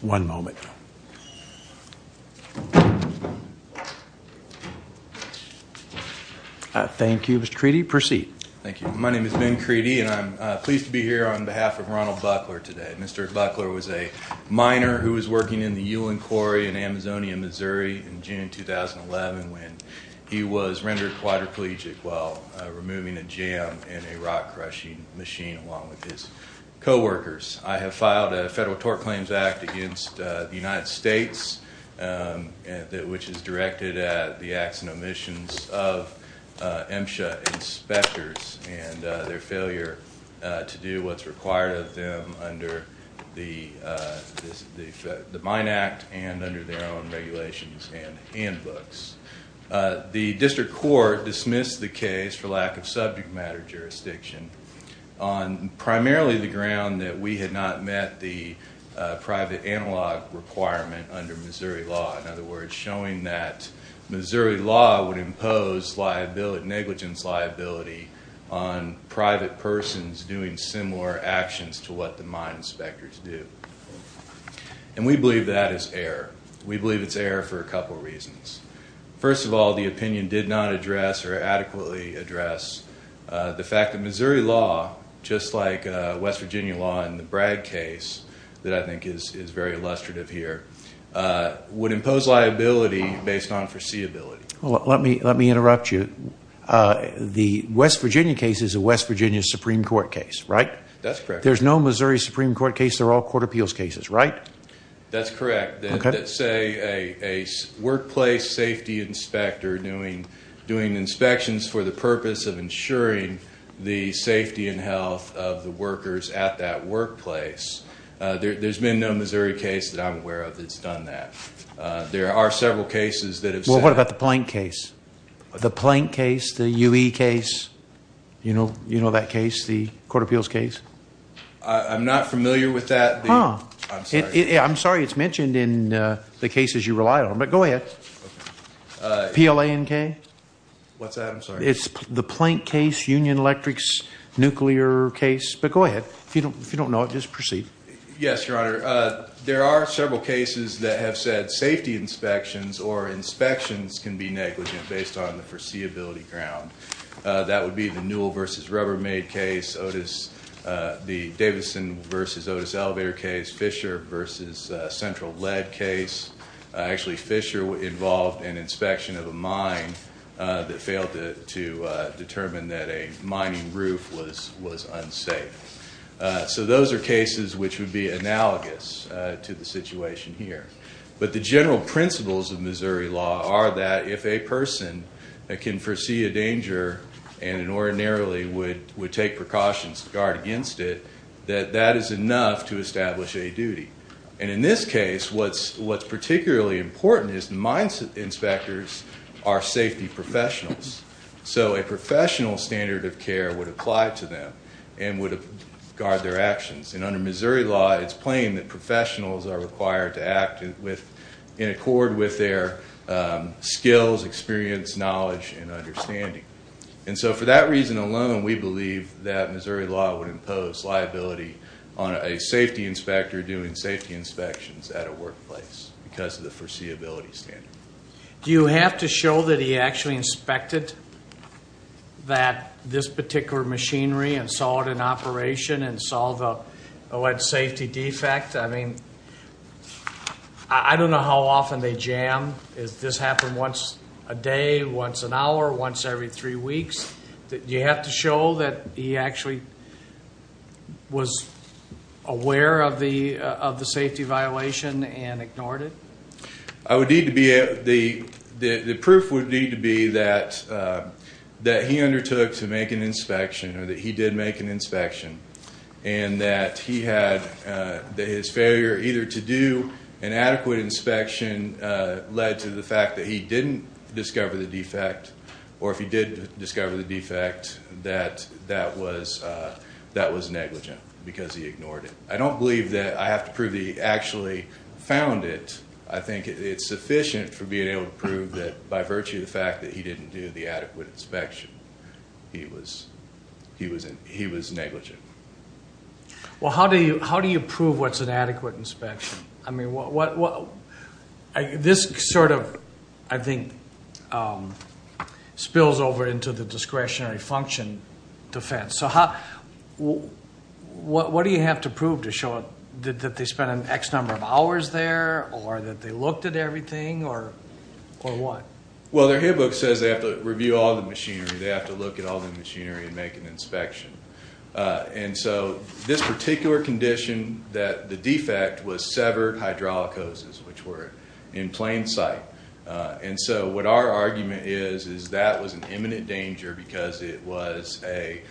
One moment. Thank you, Mr. Creedy. Proceed. Thank you. My name is Ben Creedy and I'm pleased to be here on behalf of Ronald Buckler today. Mr. Buckler was a miner who was working in the Ewing Quarry in Amazonia, Missouri in June 2011 when he was rendered quadriplegic while removing a jam in a rock-crushing machine along with his co-workers. I have filed a federal tort claims act against the United States, which is directed at the acts and omissions of MSHA inspectors and their failure to do what's required of them under the Mine Act and under their own regulations and handbooks. The district court dismissed the case for lack of subject matter jurisdiction on primarily the ground that we had not met the private analog requirement under Missouri law. In other words, showing that Missouri law would impose negligence liability on private persons doing similar actions to what the mine inspectors do. And we believe that is error. We believe it's error for a couple reasons. First of all, the fact that Missouri law, just like West Virginia law in the Bragg case that I think is very illustrative here, would impose liability based on foreseeability. Let me interrupt you. The West Virginia case is a West Virginia Supreme Court case, right? That's correct. There's no Missouri Supreme Court case, they're all court appeals cases, right? That's correct. Let's say a workplace safety inspector doing inspections for the purpose of ensuring the safety and health of the workers at that workplace. There's been no Missouri case that I'm aware of that's done that. There are several cases that have... Well, what about the Plank case? The Plank case? The UE case? You know that case? The court appeals case? I'm not familiar with that. I'm sorry it's mentioned in the PLANK? What's that? I'm sorry. It's the Plank case, Union Electric's nuclear case. But go ahead. If you don't know it, just proceed. Yes, Your Honor. There are several cases that have said safety inspections or inspections can be negligent based on the foreseeability ground. That would be the Newell versus Rubbermaid case, Otis, the Davidson versus Otis elevator case, Fisher versus Central Lead case. Actually, Fisher involved an inspection of a mine that failed to determine that a mining roof was unsafe. So those are cases which would be analogous to the situation here. But the general principles of Missouri law are that if a person that can foresee a danger and ordinarily would would take precautions to guard against it, that that is enough to establish a In this case, what's particularly important is the mine inspectors are safety professionals. So a professional standard of care would apply to them and would guard their actions. And under Missouri law, it's plain that professionals are required to act in accord with their skills, experience, knowledge, and understanding. And so for that reason alone, we believe that Missouri law would impose liability on a safety inspector doing safety inspections at a workplace because of the foreseeability standard. Do you have to show that he actually inspected that this particular machinery and saw it in operation and saw the alleged safety defect? I mean, I don't know how often they jam. Does this happen once a day, once an hour, once every three weeks? Do you have to show that he actually was aware of the safety violation and ignored it? I would need to be the proof would need to be that that he undertook to make an inspection or that he did make an inspection and that he had his failure either to do an adequate inspection led to the fact that he didn't discover the defect or if he did discover the defect that that was that was negligent because he ignored it. I don't believe that I have to prove he actually found it. I think it's sufficient for being able to prove that by virtue of the fact that he didn't do the adequate inspection, he was he wasn't he was negligent. Well, how do you how do you prove what's an adequate inspection? I mean, what this sort of I think spills over into the discretionary function defense. So how what what do you have to prove to show that they spent an X number of hours there or that they looked at everything or or what? Well, their handbook says they have to review all the machinery. They have to look at all the machinery and make an inspection. And so this particular condition that the defect was severed hydraulic hoses which were in plain sight. And so what our argument is is that was an imminent danger because it was a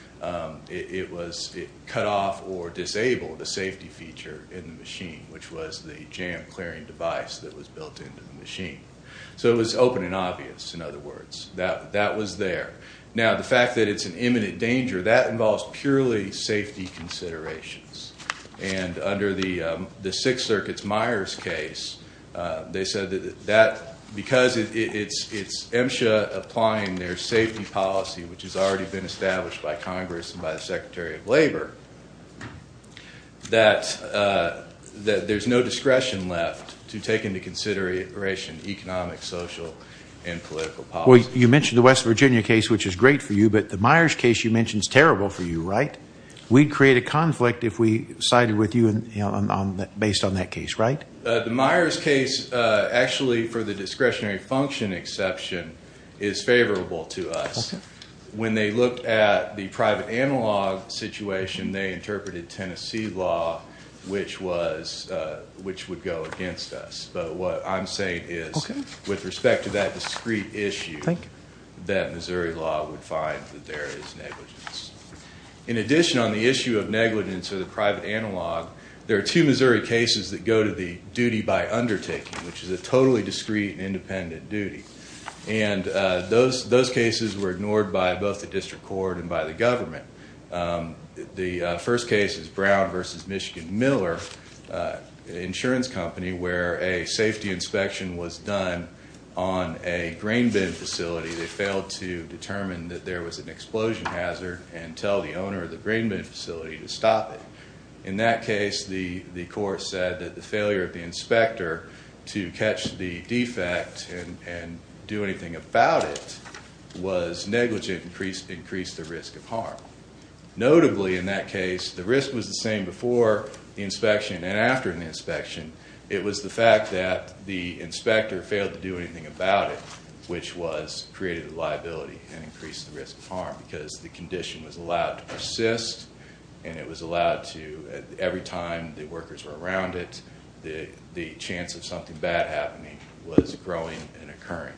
it was cut off or disabled the safety feature in the machine which was the jam clearing device that was built into the machine. So it was open and obvious in other words that that was there. Now the fact that it's an imminent danger that involves purely safety considerations. And under the the Sixth Circuit's Myers case, they said that because it's MSHA applying their safety policy which has already been established by Congress and by the Secretary of Labor, that there's no discretion left to take into consideration economic, social, and political policy. Well, you mentioned the West Virginia case which is great for you, but the Myers case you mentioned is conflict if we sided with you and based on that case, right? The Myers case actually for the discretionary function exception is favorable to us. When they looked at the private analog situation, they interpreted Tennessee law which was which would go against us. But what I'm saying is with respect to that discrete issue, that Missouri law would find that there is negligence. In addition on the negligence or the private analog, there are two Missouri cases that go to the duty by undertaking, which is a totally discreet and independent duty. And those those cases were ignored by both the district court and by the government. The first case is Brown versus Michigan Miller insurance company where a safety inspection was done on a grain bin facility. They failed to determine that there was an explosion hazard and tell the owner of the grain bin facility to stop it. In that case, the the court said that the failure of the inspector to catch the defect and do anything about it was negligent and increased the risk of harm. Notably in that case, the risk was the same before the inspection and after the inspection. It was the fact that the inspector failed to do anything about it, which was created a liability and increased the condition was allowed to persist and it was allowed to, every time the workers were around it, the the chance of something bad happening was growing and occurring.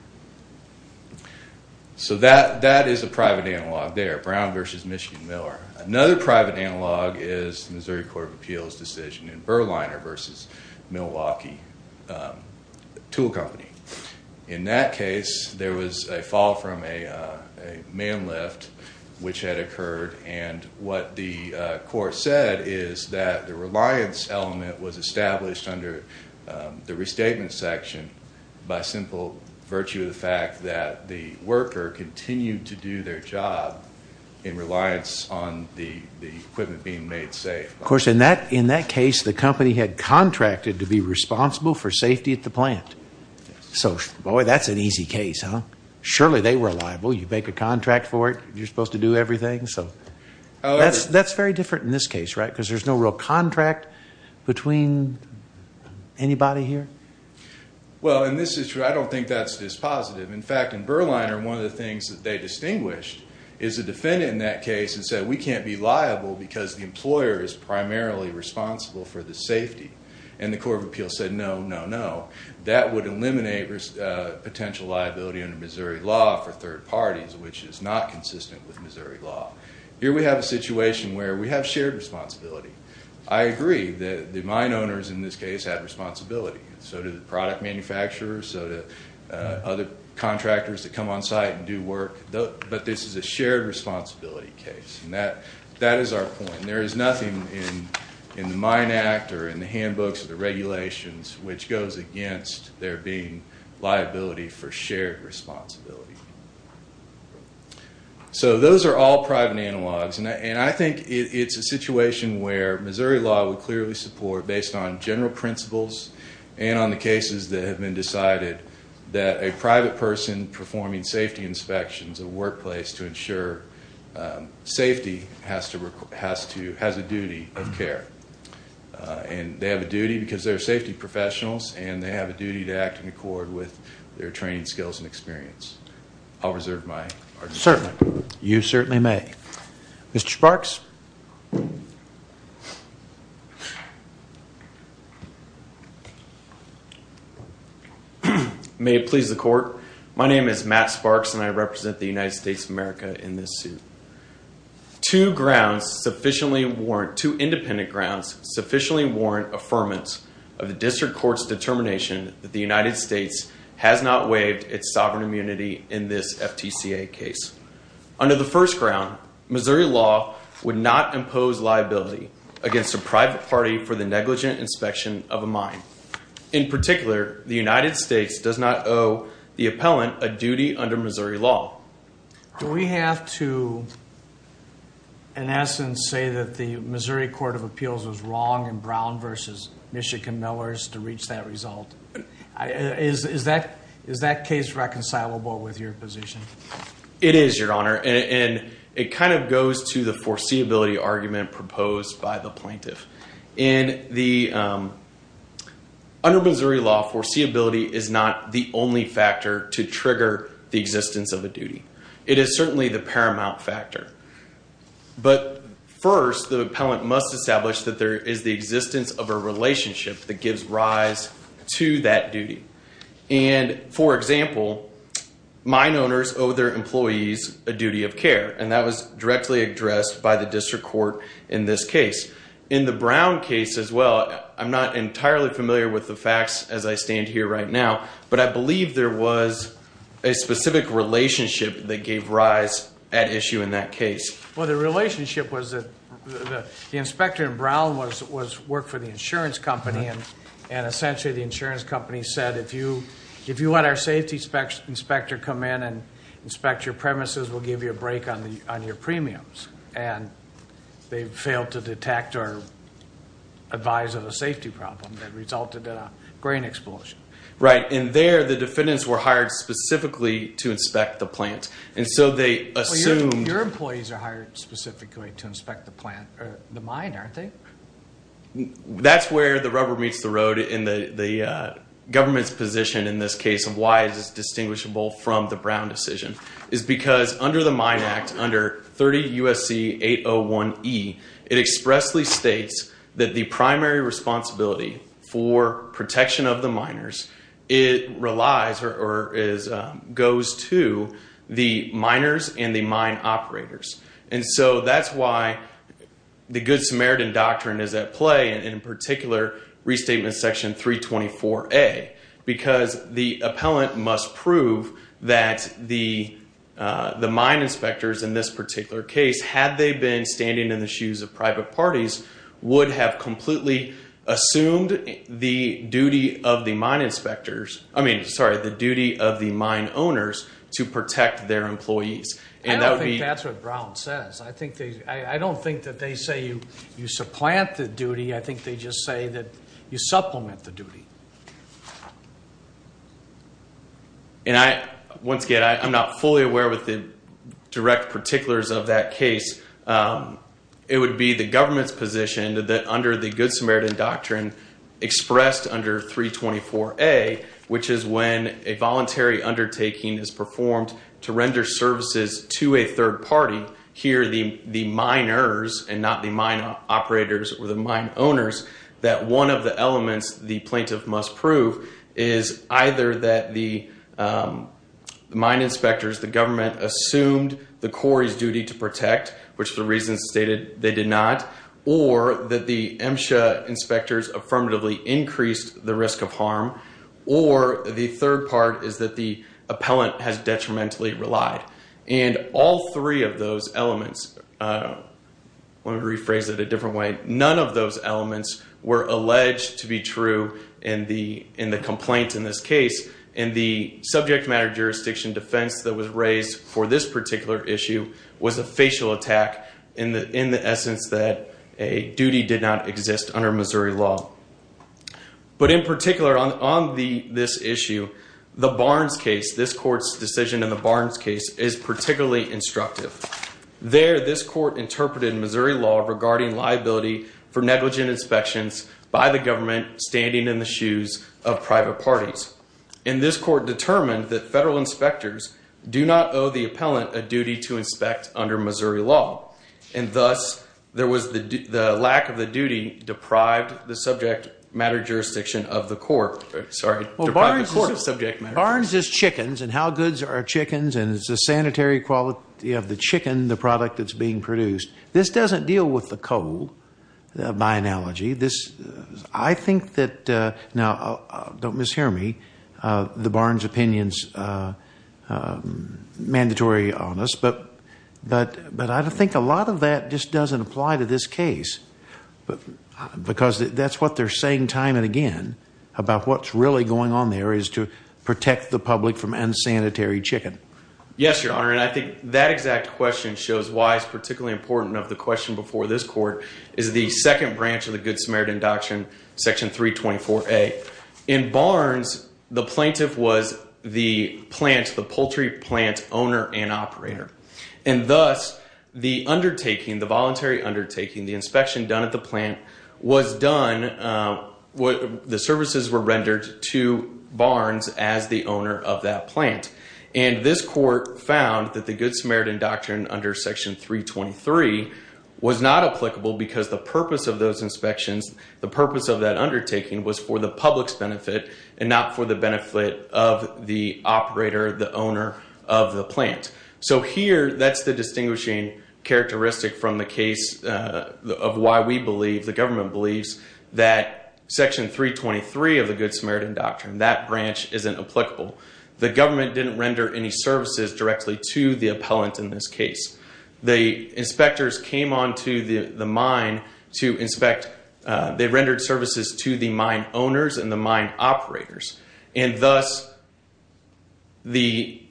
So that that is a private analog there, Brown versus Michigan Miller. Another private analog is Missouri Court of Appeals decision in Berliner versus Milwaukee Tool Company. In that case, there was a fall from a man lift which had occurred and what the court said is that the reliance element was established under the restatement section by simple virtue of the fact that the worker continued to do their job in reliance on the the equipment being made safe. Of course, in that in that case, the company had contracted to be responsible for safety at the plant. So boy, that's an easy case, huh? Surely they were liable. You make a contract for it. You're supposed to do everything. So that's that's very different in this case, right? Because there's no real contract between anybody here. Well, and this is true. I don't think that's this positive. In fact, in Berliner, one of the things that they distinguished is a defendant in that case and said we can't be liable because the employer is primarily responsible for the safety and the Court of Appeals said no, no, no. That would eliminate potential liability under Missouri law for third parties, which is not consistent with Missouri law. Here we have a situation where we have shared responsibility. I agree that the mine owners in this case have responsibility. So do the product manufacturers. So do other contractors that come on site and do work. But this is a shared responsibility case and that that is our point. There is nothing in the Mine Act or in the handbooks or the regulations which goes against there being liability for shared responsibility. So those are all private analogs and I think it's a situation where Missouri law would clearly support based on general principles and on the cases that have been decided that a private person performing safety inspections of workplace to ensure safety has to has a duty of care. And they have a duty because they're safety professionals and they have a duty to act in accord with their training, skills and experience. I'll reserve my argument. Certainly. You certainly may. Mr. Sparks. May it please the court. My name is Matt Sparks and I represent the United States Department of Transportation. Two independent grounds sufficiently warrant affirmance of the district court's determination that the United States has not waived its sovereign immunity in this FTCA case. Under the first ground, Missouri law would not impose liability against a private party for the negligent inspection of a mine. In particular, the United States does not owe the appellant a duty under Missouri law. Do we have to in essence say that the Missouri Court of Appeals was wrong in Brown versus Michigan Millers to reach that result? Is that case reconcilable with your position? It is, your honor. And it kind of goes to the foreseeability argument proposed by the plaintiff. Under Missouri law, foreseeability is not the only factor to trigger the existence of a duty. It is certainly the paramount factor. But first, the appellant must establish that there is the existence of a relationship that gives rise to that duty. And for example, mine owners owe their employees a duty of care, and that was directly addressed by the district court in this case. In the Brown case as well, I'm not entirely familiar with the facts as I stand here right now, but I believe there was a specific relationship that gave rise at issue in that case. Well, the relationship was that the inspector in Brown worked for the insurance company, and essentially the insurance company said, if you want our safety inspector to come in and inspect your premises, we'll give you a break on your premiums. And they failed to detect or advise of a safety problem that resulted in a grain explosion. Right. And there, the defendants were hired specifically to inspect the plant. And so they assumed... Your employees are hired specifically to inspect the plant, or the mine, aren't they? That's where the rubber meets the road in the government's position in this case of why it is distinguishable from the Brown decision, is because under the Mine Act, under 30 USC 801E, it expressly states that the primary responsibility for protection of the miners, it relies or is, goes to the miners and the mine operators. And so that's why the Good Samaritan doctrine is at play, and in particular Restatement Section 324A, because the appellant must prove that the mine inspectors in this particular case, had they been standing in the shoes of private parties, would have completely assumed the duty of the mine inspectors... I mean, sorry, the duty of the mine owners to protect their employees. I don't think that's what Brown says. I don't think that they say you supplant the duty, I think they just say that you supplement the duty. And once again, I'm not fully aware with the direct particulars of that the Good Samaritan doctrine expressed under 324A, which is when a voluntary undertaking is performed to render services to a third party, here the miners and not the mine operators or the mine owners, that one of the elements the plaintiff must prove is either that the mine inspectors, the government assumed the quarry's duty to protect, which the reason stated they did not, or that the MSHA inspectors affirmatively increased the risk of harm, or the third part is that the appellant has detrimentally relied. And all three of those elements, let me rephrase it a different way, none of those elements were alleged to be true in the complaint in this case, and the subject matter jurisdiction defense that was raised for this particular issue was a facial attack in the essence that a duty did not exist under Missouri law. But in particular on this issue, the Barnes case, this court's decision in the Barnes case is particularly instructive. There, this court interpreted Missouri law regarding liability for negligent inspections by the government standing in the shoes of private parties. And this court determined that federal inspectors do not owe the appellant a duty to inspect under Missouri law. And thus, there was the lack of the duty deprived the subject matter jurisdiction of the court. Sorry, deprived the court of subject matter. Barnes is chickens, and how goods are chickens, and it's a sanitary quality of the chicken, the product that's being produced. This doesn't deal with the coal, by analogy. This, I think that, now don't mishear me, the Barnes opinion's mandatory on us, but I think a lot of that just doesn't apply to this case. Because that's what they're saying time and again about what's really going on there is to protect the public from unsanitary chicken. Yes, Your Honor, and I think that exact question shows why it's particularly important of the question before this court, is the second branch of the Good Samaritan Doctrine, Section 324A. In Barnes, the plaintiff was the plant, the poultry plant owner and operator. And thus, the undertaking, the voluntary undertaking, the inspection done at the plant was done, the services were rendered to Barnes as the owner of that plant. And this court found that the Good Samaritan Doctrine under Section 323 was not applicable because the purpose of those inspections, the purpose of that undertaking, was for the public's benefit and not for the benefit of the operator, the owner of the plant. So here, that's the distinguishing characteristic from the case of why we believe, the government believes, that Section 323 of the Good Samaritan Doctrine, that branch isn't applicable. The government didn't render any services directly to the appellant in this case. The inspectors came on to the mine to inspect, they rendered services to the mine owners and the mine operators. And thus, the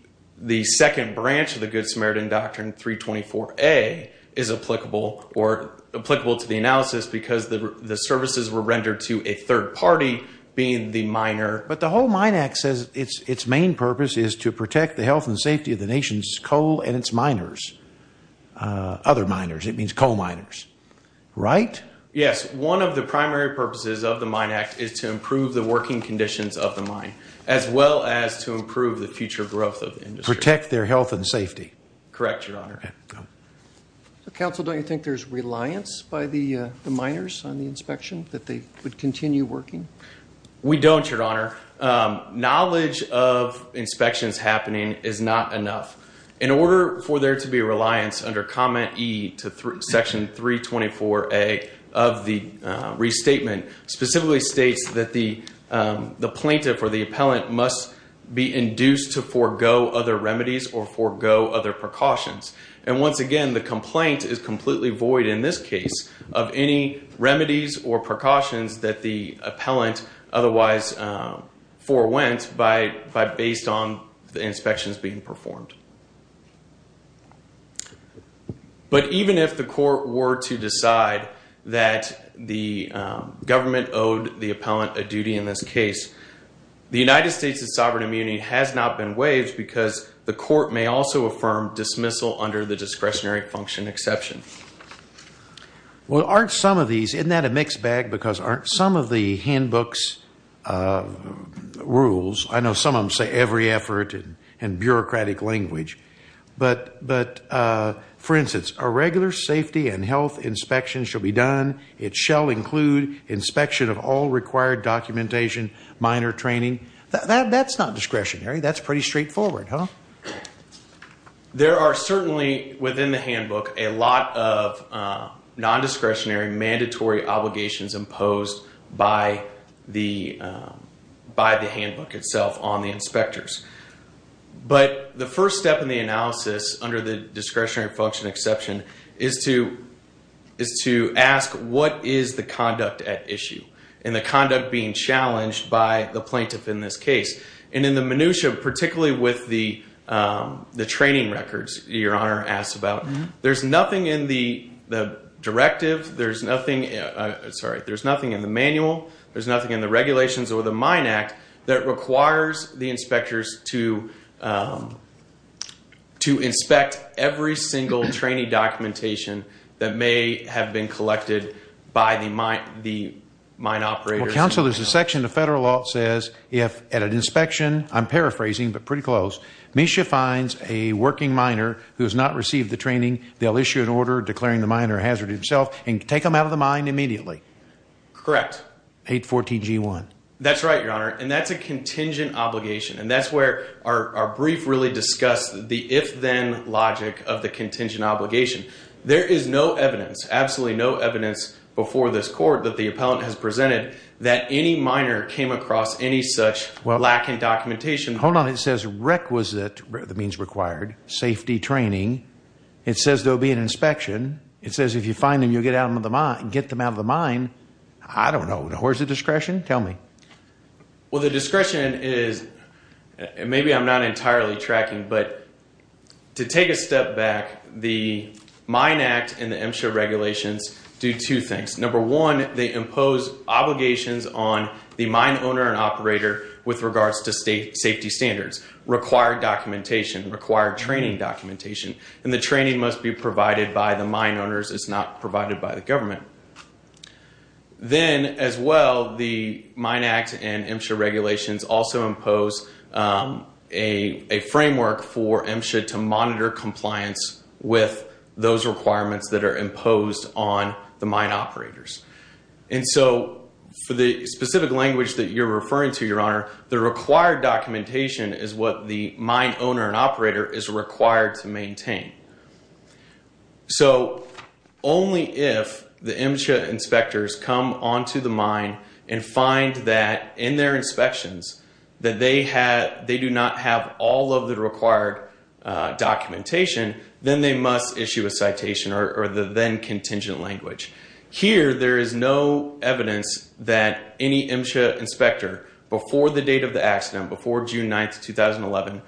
second branch of the Good Samaritan Doctrine, 324A, is applicable or applicable to the analysis because the services were rendered to a third party, being the miner. But the whole Mine Act says its main purpose is to protect the health and safety of the nation's coal and its miners, other miners. It means coal miners. Right? Yes. One of the primary purposes of the Mine Act is to improve the working conditions of the mine, as well as to improve the future growth of the industry. Protect their health and safety. Correct, Your Honor. Counsel, don't you think there's reliance by the miners on the inspection, that they would continue working? We don't, Your Honor. Knowledge of inspections happening is not enough. In order for there to be reliance under Comment E to Section 324A of the Restatement, specifically states that the plaintiff or the appellant must be induced to forego other remedies or forego other precautions. And once again, the complaint is completely void in this case of any remedies or precautions that the appellant otherwise forewent based on the inspections being performed. But even if the court were to decide that the government owed the appellant a duty in this case, the United States' sovereign immunity has not been waived because the court may also affirm dismissal under the discretionary function exception. Well, aren't some of these, isn't that a mixed bag? Because aren't some of the handbooks rules, I know some of them say every effort and bureaucratic language, but for instance, a regular safety and health inspection shall be done. It shall include inspection of all required documentation, minor training. That's not discretionary. That's pretty straightforward, huh? There are certainly within the handbook a lot of rules that are imposed by the handbook itself on the inspectors. But the first step in the analysis under the discretionary function exception is to ask what is the conduct at issue and the conduct being challenged by the plaintiff in this case. And in the minutiae, particularly with the training records Your Honor asked about, there's nothing in the directive, there's nothing, sorry, there's nothing in the manual, there's nothing in the regulations or the Mine Act that requires the inspectors to inspect every single training documentation that may have been collected by the mine operators. Well, counsel, there's a section of federal law that says if at an inspection, I'm paraphrasing but pretty close, Misha finds a working miner who has not received the training, they'll issue an order declaring the miner hazarded himself and take him out of the mine immediately. Correct. 814 G1. That's right, Your Honor, and that's a contingent obligation and that's where our brief really discussed the if-then logic of the contingent obligation. There is no evidence, absolutely no evidence before this court that the appellant has presented that any miner came across any such lack in documentation. Hold on, it says requisite, that means required, safety training. It says there'll be an inspection. It says if you find them, you'll get them out of the mine. I don't know. Where's the discretion? Tell me. Well, the discretion is, maybe I'm not entirely tracking, but to take a step back, the Mine Act and the MSHA regulations do two things. Number one, they impose obligations on the mine owner and operator with regards to safety standards, required documentation, required training documentation, and the training must be provided by the mine owners. It's not provided by the government. Then, as well, the Mine Act and MSHA regulations also impose a framework for MSHA to monitor compliance with those requirements that are imposed on the mine operators, and so for the specific language that you're referring to, Your Honor, the required documentation that the mine owner and operator is required to maintain. So, only if the MSHA inspectors come onto the mine and find that, in their inspections, that they do not have all of the required documentation, then they must issue a citation or the then-contingent language. Here, there is no evidence that any MSHA inspector, before the date of the accident, before June 9th, 2011,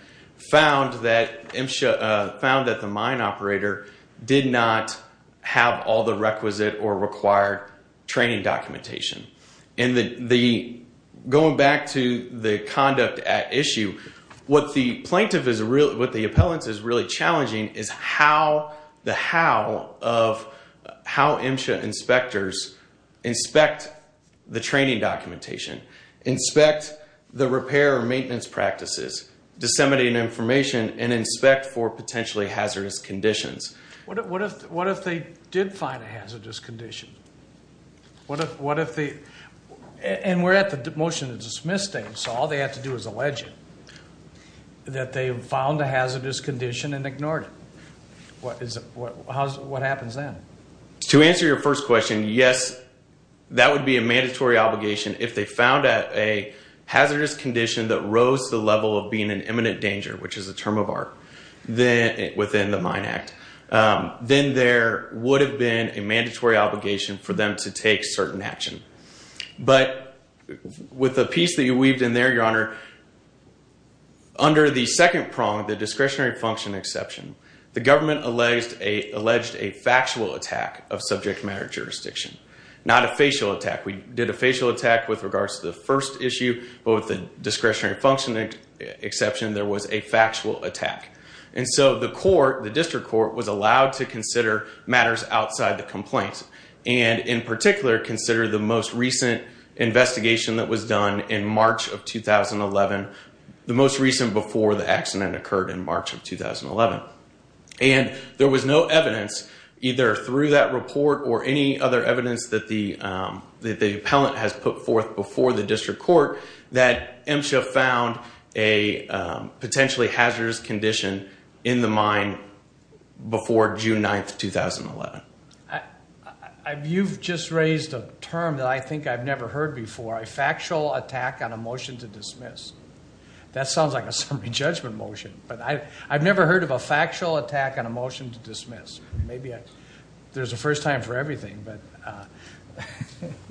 found that MSHA, found that the mine operator did not have all the requisite or required training documentation, and the, going back to the conduct at issue, what the plaintiff is really, what the appellant is really challenging is how, the how, of how MSHA inspectors inspect the training documentation, inspect the repair or maintenance practices, disseminating information, and inspect for potentially hazardous conditions. What if, what if, what if they did find a hazardous condition? What if, what if they, and we're at the motion of dismissing, so all they have to do is allege it, that they found a hazardous condition and ignored it. What is, what, how, what happens then? To answer your first question, yes, that would be a mandatory obligation. If they found a hazardous condition that rose to the level of being an imminent danger, which is a term of art, then, within the Mine Act, then there would have been a mandatory obligation for them to take certain action. But, with the piece that you weaved in there, Your Honor, under the government alleged a factual attack of subject matter jurisdiction, not a facial attack. We did a facial attack with regards to the first issue, but with the discretionary functioning exception, there was a factual attack. And so, the court, the district court, was allowed to consider matters outside the complaints and, in particular, consider the most recent investigation that was done in March of 2011, the most recent before the accident occurred in March of 2011. And there was no evidence, either through that report or any other evidence that the, that the appellant has put forth before the district court, that MSHA found a potentially hazardous condition in the mine before June 9th, 2011. You've just raised a term that I think I've never heard before, a factual attack on a motion to dismiss. That sounds like a summary judgment motion, but I, I've never heard of a factual attack on a motion to dismiss. Maybe there's a first time for everything, but.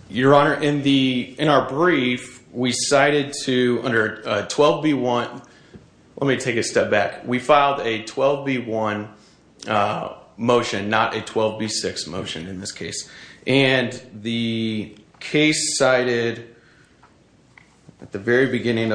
Your Honor, in the, in our brief, we cited to under 12B1, let me take a step back. We filed a 12B1 motion, not a 12B6 motion in this case. And the case cited at the Well,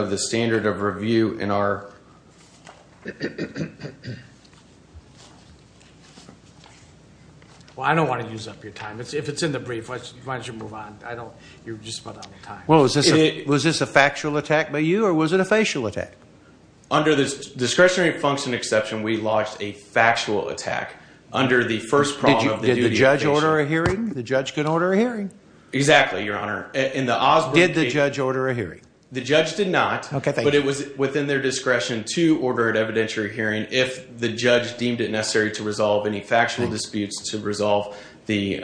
I don't want to use up your time. If it's in the brief, why don't you move on? I don't, you're just running out of time. Well, was this a, was this a factual attack by you or was it a facial attack? Under the discretionary function exception, we lodged a factual attack under the first Did you, did the judge order a hearing? The judge could order a hearing. Exactly, Your Honor. In the Osborne case. Did the judge order a hearing? The judge did not. Okay, thank you. Within their discretion to order an evidentiary hearing, if the judge deemed it necessary to resolve any factual disputes to resolve the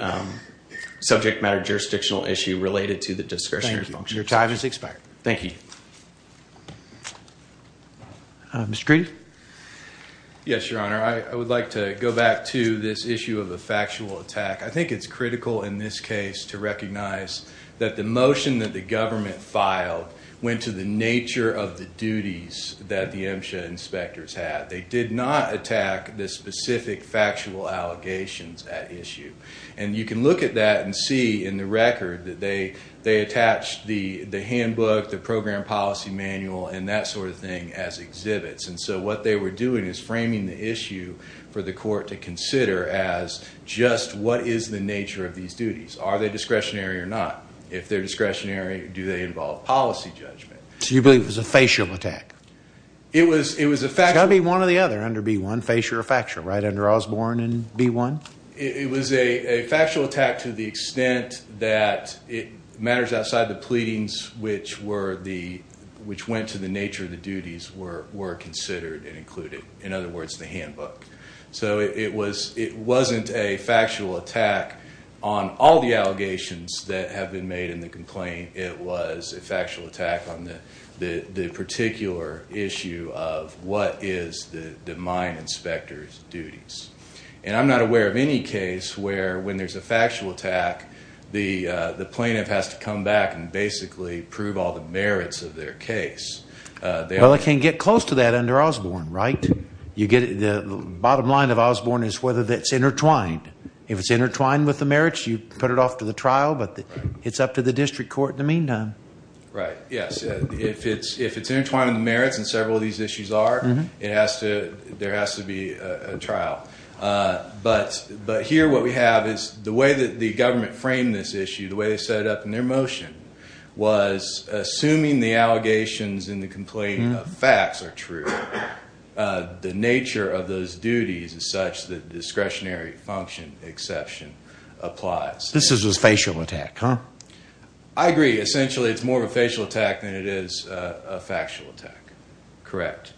subject matter jurisdictional issue related to the discretionary function. Your time has expired. Thank you. Mr. Green? Yes, Your Honor. I would like to go back to this issue of a factual attack. I think it's critical in this case to recognize that the motion that the duties that the MSHA inspectors had, they did not attack the specific factual allegations at issue. And you can look at that and see in the record that they, they attached the, the handbook, the program policy manual, and that sort of thing as exhibits. And so what they were doing is framing the issue for the court to consider as just what is the nature of these duties? Are they discretionary or not? If they're discretionary, do they involve policy judgment? So you believe it was a facial attack? It was, it was a fact. It's got to be one or the other under B1, facial or factual, right? Under Osborne and B1? It was a factual attack to the extent that it matters outside the pleadings, which were the, which went to the nature of the duties were, were considered and included, in other words, the handbook. So it was, it wasn't a factual attack on all the allegations that have been made in the complaint. It was a factual attack on the, the, the particular issue of what is the, the mine inspector's duties. And I'm not aware of any case where when there's a factual attack, the, uh, the plaintiff has to come back and basically prove all the merits of their case, uh, they all can get close to that under Osborne, right? You get the bottom line of Osborne is whether that's intertwined. If it's intertwined with the merits, you put it off to the trial, but it's up to the district court in the meantime, right? Yes. If it's, if it's intertwined with the merits and several of these issues are, it has to, there has to be a trial. Uh, but, but here, what we have is the way that the government framed this issue, the way they set it up in their motion was assuming the allegations in the complaint of facts are true. Uh, the nature of those duties is such that discretionary function exception applies. This is a facial attack, huh? I agree. Essentially. It's more of a facial attack than it is a factual attack. Correct.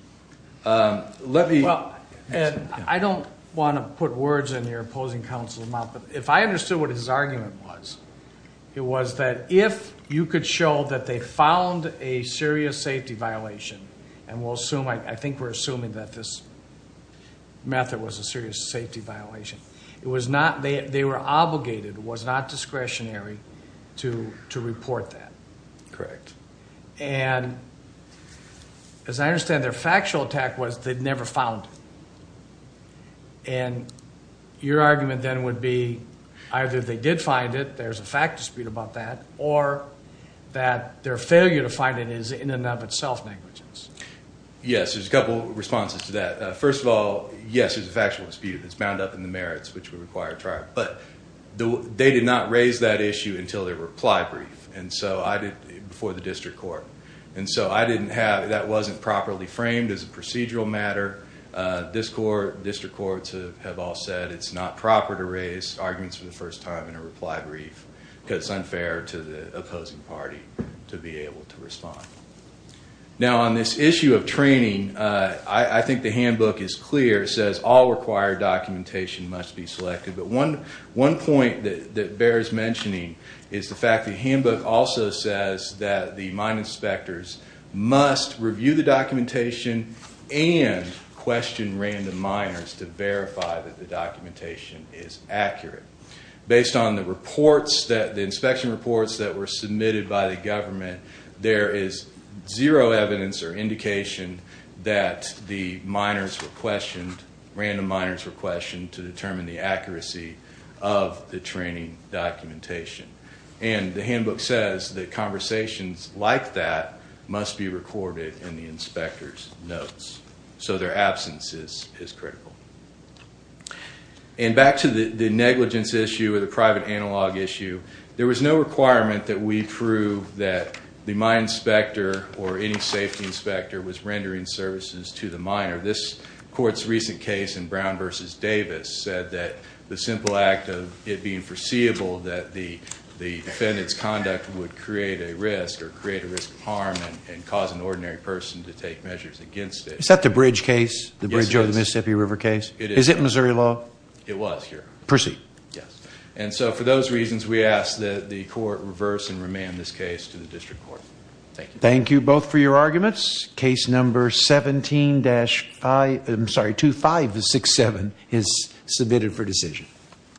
Um, let me, Well, Ed, I don't want to put words in your opposing counsel's mouth, but if I understood what his argument was, it was that if you could show that they found a serious safety violation and we'll assume, I think we're assuming that this method was a serious safety violation, it was not, they were obligated, was not discretionary to, to report that. Correct. And as I understand their factual attack was they'd never found it. And your argument then would be either they did find it, there's a fact dispute about that, or that their failure to find it is in and of itself negligence. Yes. There's a couple responses to that. Uh, first of all, yes, there's a factual dispute. It's bound up in the merits, which would require a trial. But they did not raise that issue until their reply brief. And so I did before the district court. And so I didn't have, that wasn't properly framed as a procedural matter. Uh, this court, district courts have all said it's not proper to raise arguments for the first time in a reply brief because it's unfair to the opposing party to be able to respond. Now on this issue of training, uh, I think the handbook is clear. It says all required documentation must be selected. But one, one point that, that bears mentioning is the fact that handbook also says that the mine inspectors must review the documentation and question random miners to verify that the documentation is accurate. Based on the reports that the inspection reports that were submitted by the government, there is zero evidence or indication that the miners were of the training documentation. And the handbook says that conversations like that must be recorded in the inspector's notes. So their absence is, is critical. And back to the negligence issue or the private analog issue. There was no requirement that we prove that the mine inspector or any safety inspector was rendering services to the miner. This court's recent case in Brown versus Davis said that the simple act of it being foreseeable that the, the defendant's conduct would create a risk or create a risk of harm and cause an ordinary person to take measures against it. Is that the bridge case? The bridge over the Mississippi river case? Is it Missouri law? It was here. Proceed. Yes. And so for those reasons, we ask that the court reverse and remand this case to the district court. Thank you. Thank you both for your arguments. Case number 17 dash five. I'm sorry. Two five, six, seven is submitted for decision.